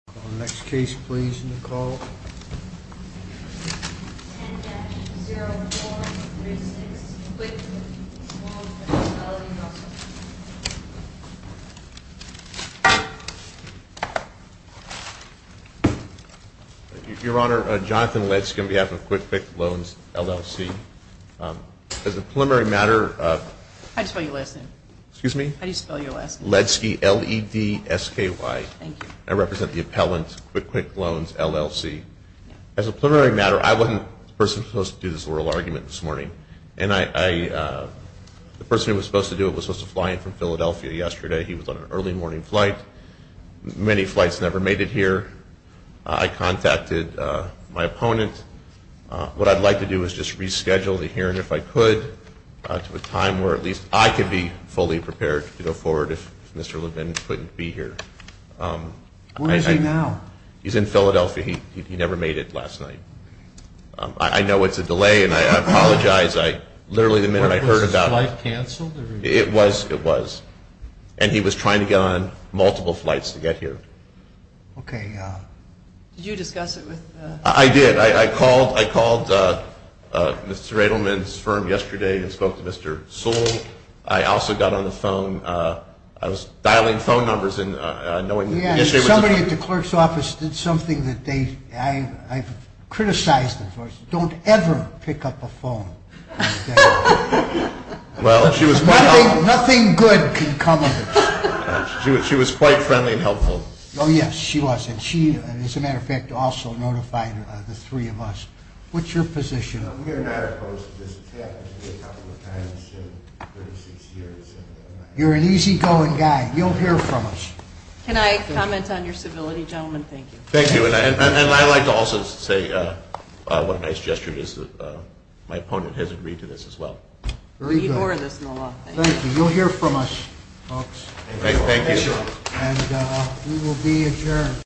Your Honor, Jonathan Ledsky on behalf of QuickClick Loans, LLC. As a preliminary matter, I represent the appellant, QuickClick Loans, LLC. As a preliminary matter, I wasn't the person who was supposed to do this oral argument this morning, and the person who was supposed to do it was supposed to fly in from Philadelphia yesterday. He was on an early morning flight. Many flights never made it here. I contacted my opponent. What I'd like to do is just reschedule the hearing, if I could, to a time where at least I could be fully prepared to go forward, if Mr. Ledsky would be so kind as to allow me to do so. Where is he now? He's in Philadelphia. He never made it last night. I know it's a delay, and I apologize. Literally the minute I heard about it. Was his flight canceled? It was. And he was trying to get on multiple flights to get here. Did you discuss it with Mr. Ledsky? I did. I called Mr. Edelman's firm yesterday and spoke to Mr. Sewell. I also got on the phone. I was dialing phone numbers. Somebody at the clerk's office did something that I've criticized them for. Don't ever pick up a phone. Nothing good can come of it. She was quite friendly and helpful. Oh, yes, she was. And she, as a matter of fact, also notified the three of us. What's your position? We're not opposed to this attack. We've had it a couple of times in 36 years. You're an easygoing guy. You'll hear from us. Can I comment on your civility, gentlemen? Thank you. Thank you. And I'd like to also say what a nice gesture it is that my opponent has agreed to this as well. We need more of this in the law. Thank you. You'll hear from us, folks. Thank you. And we will be adjourned.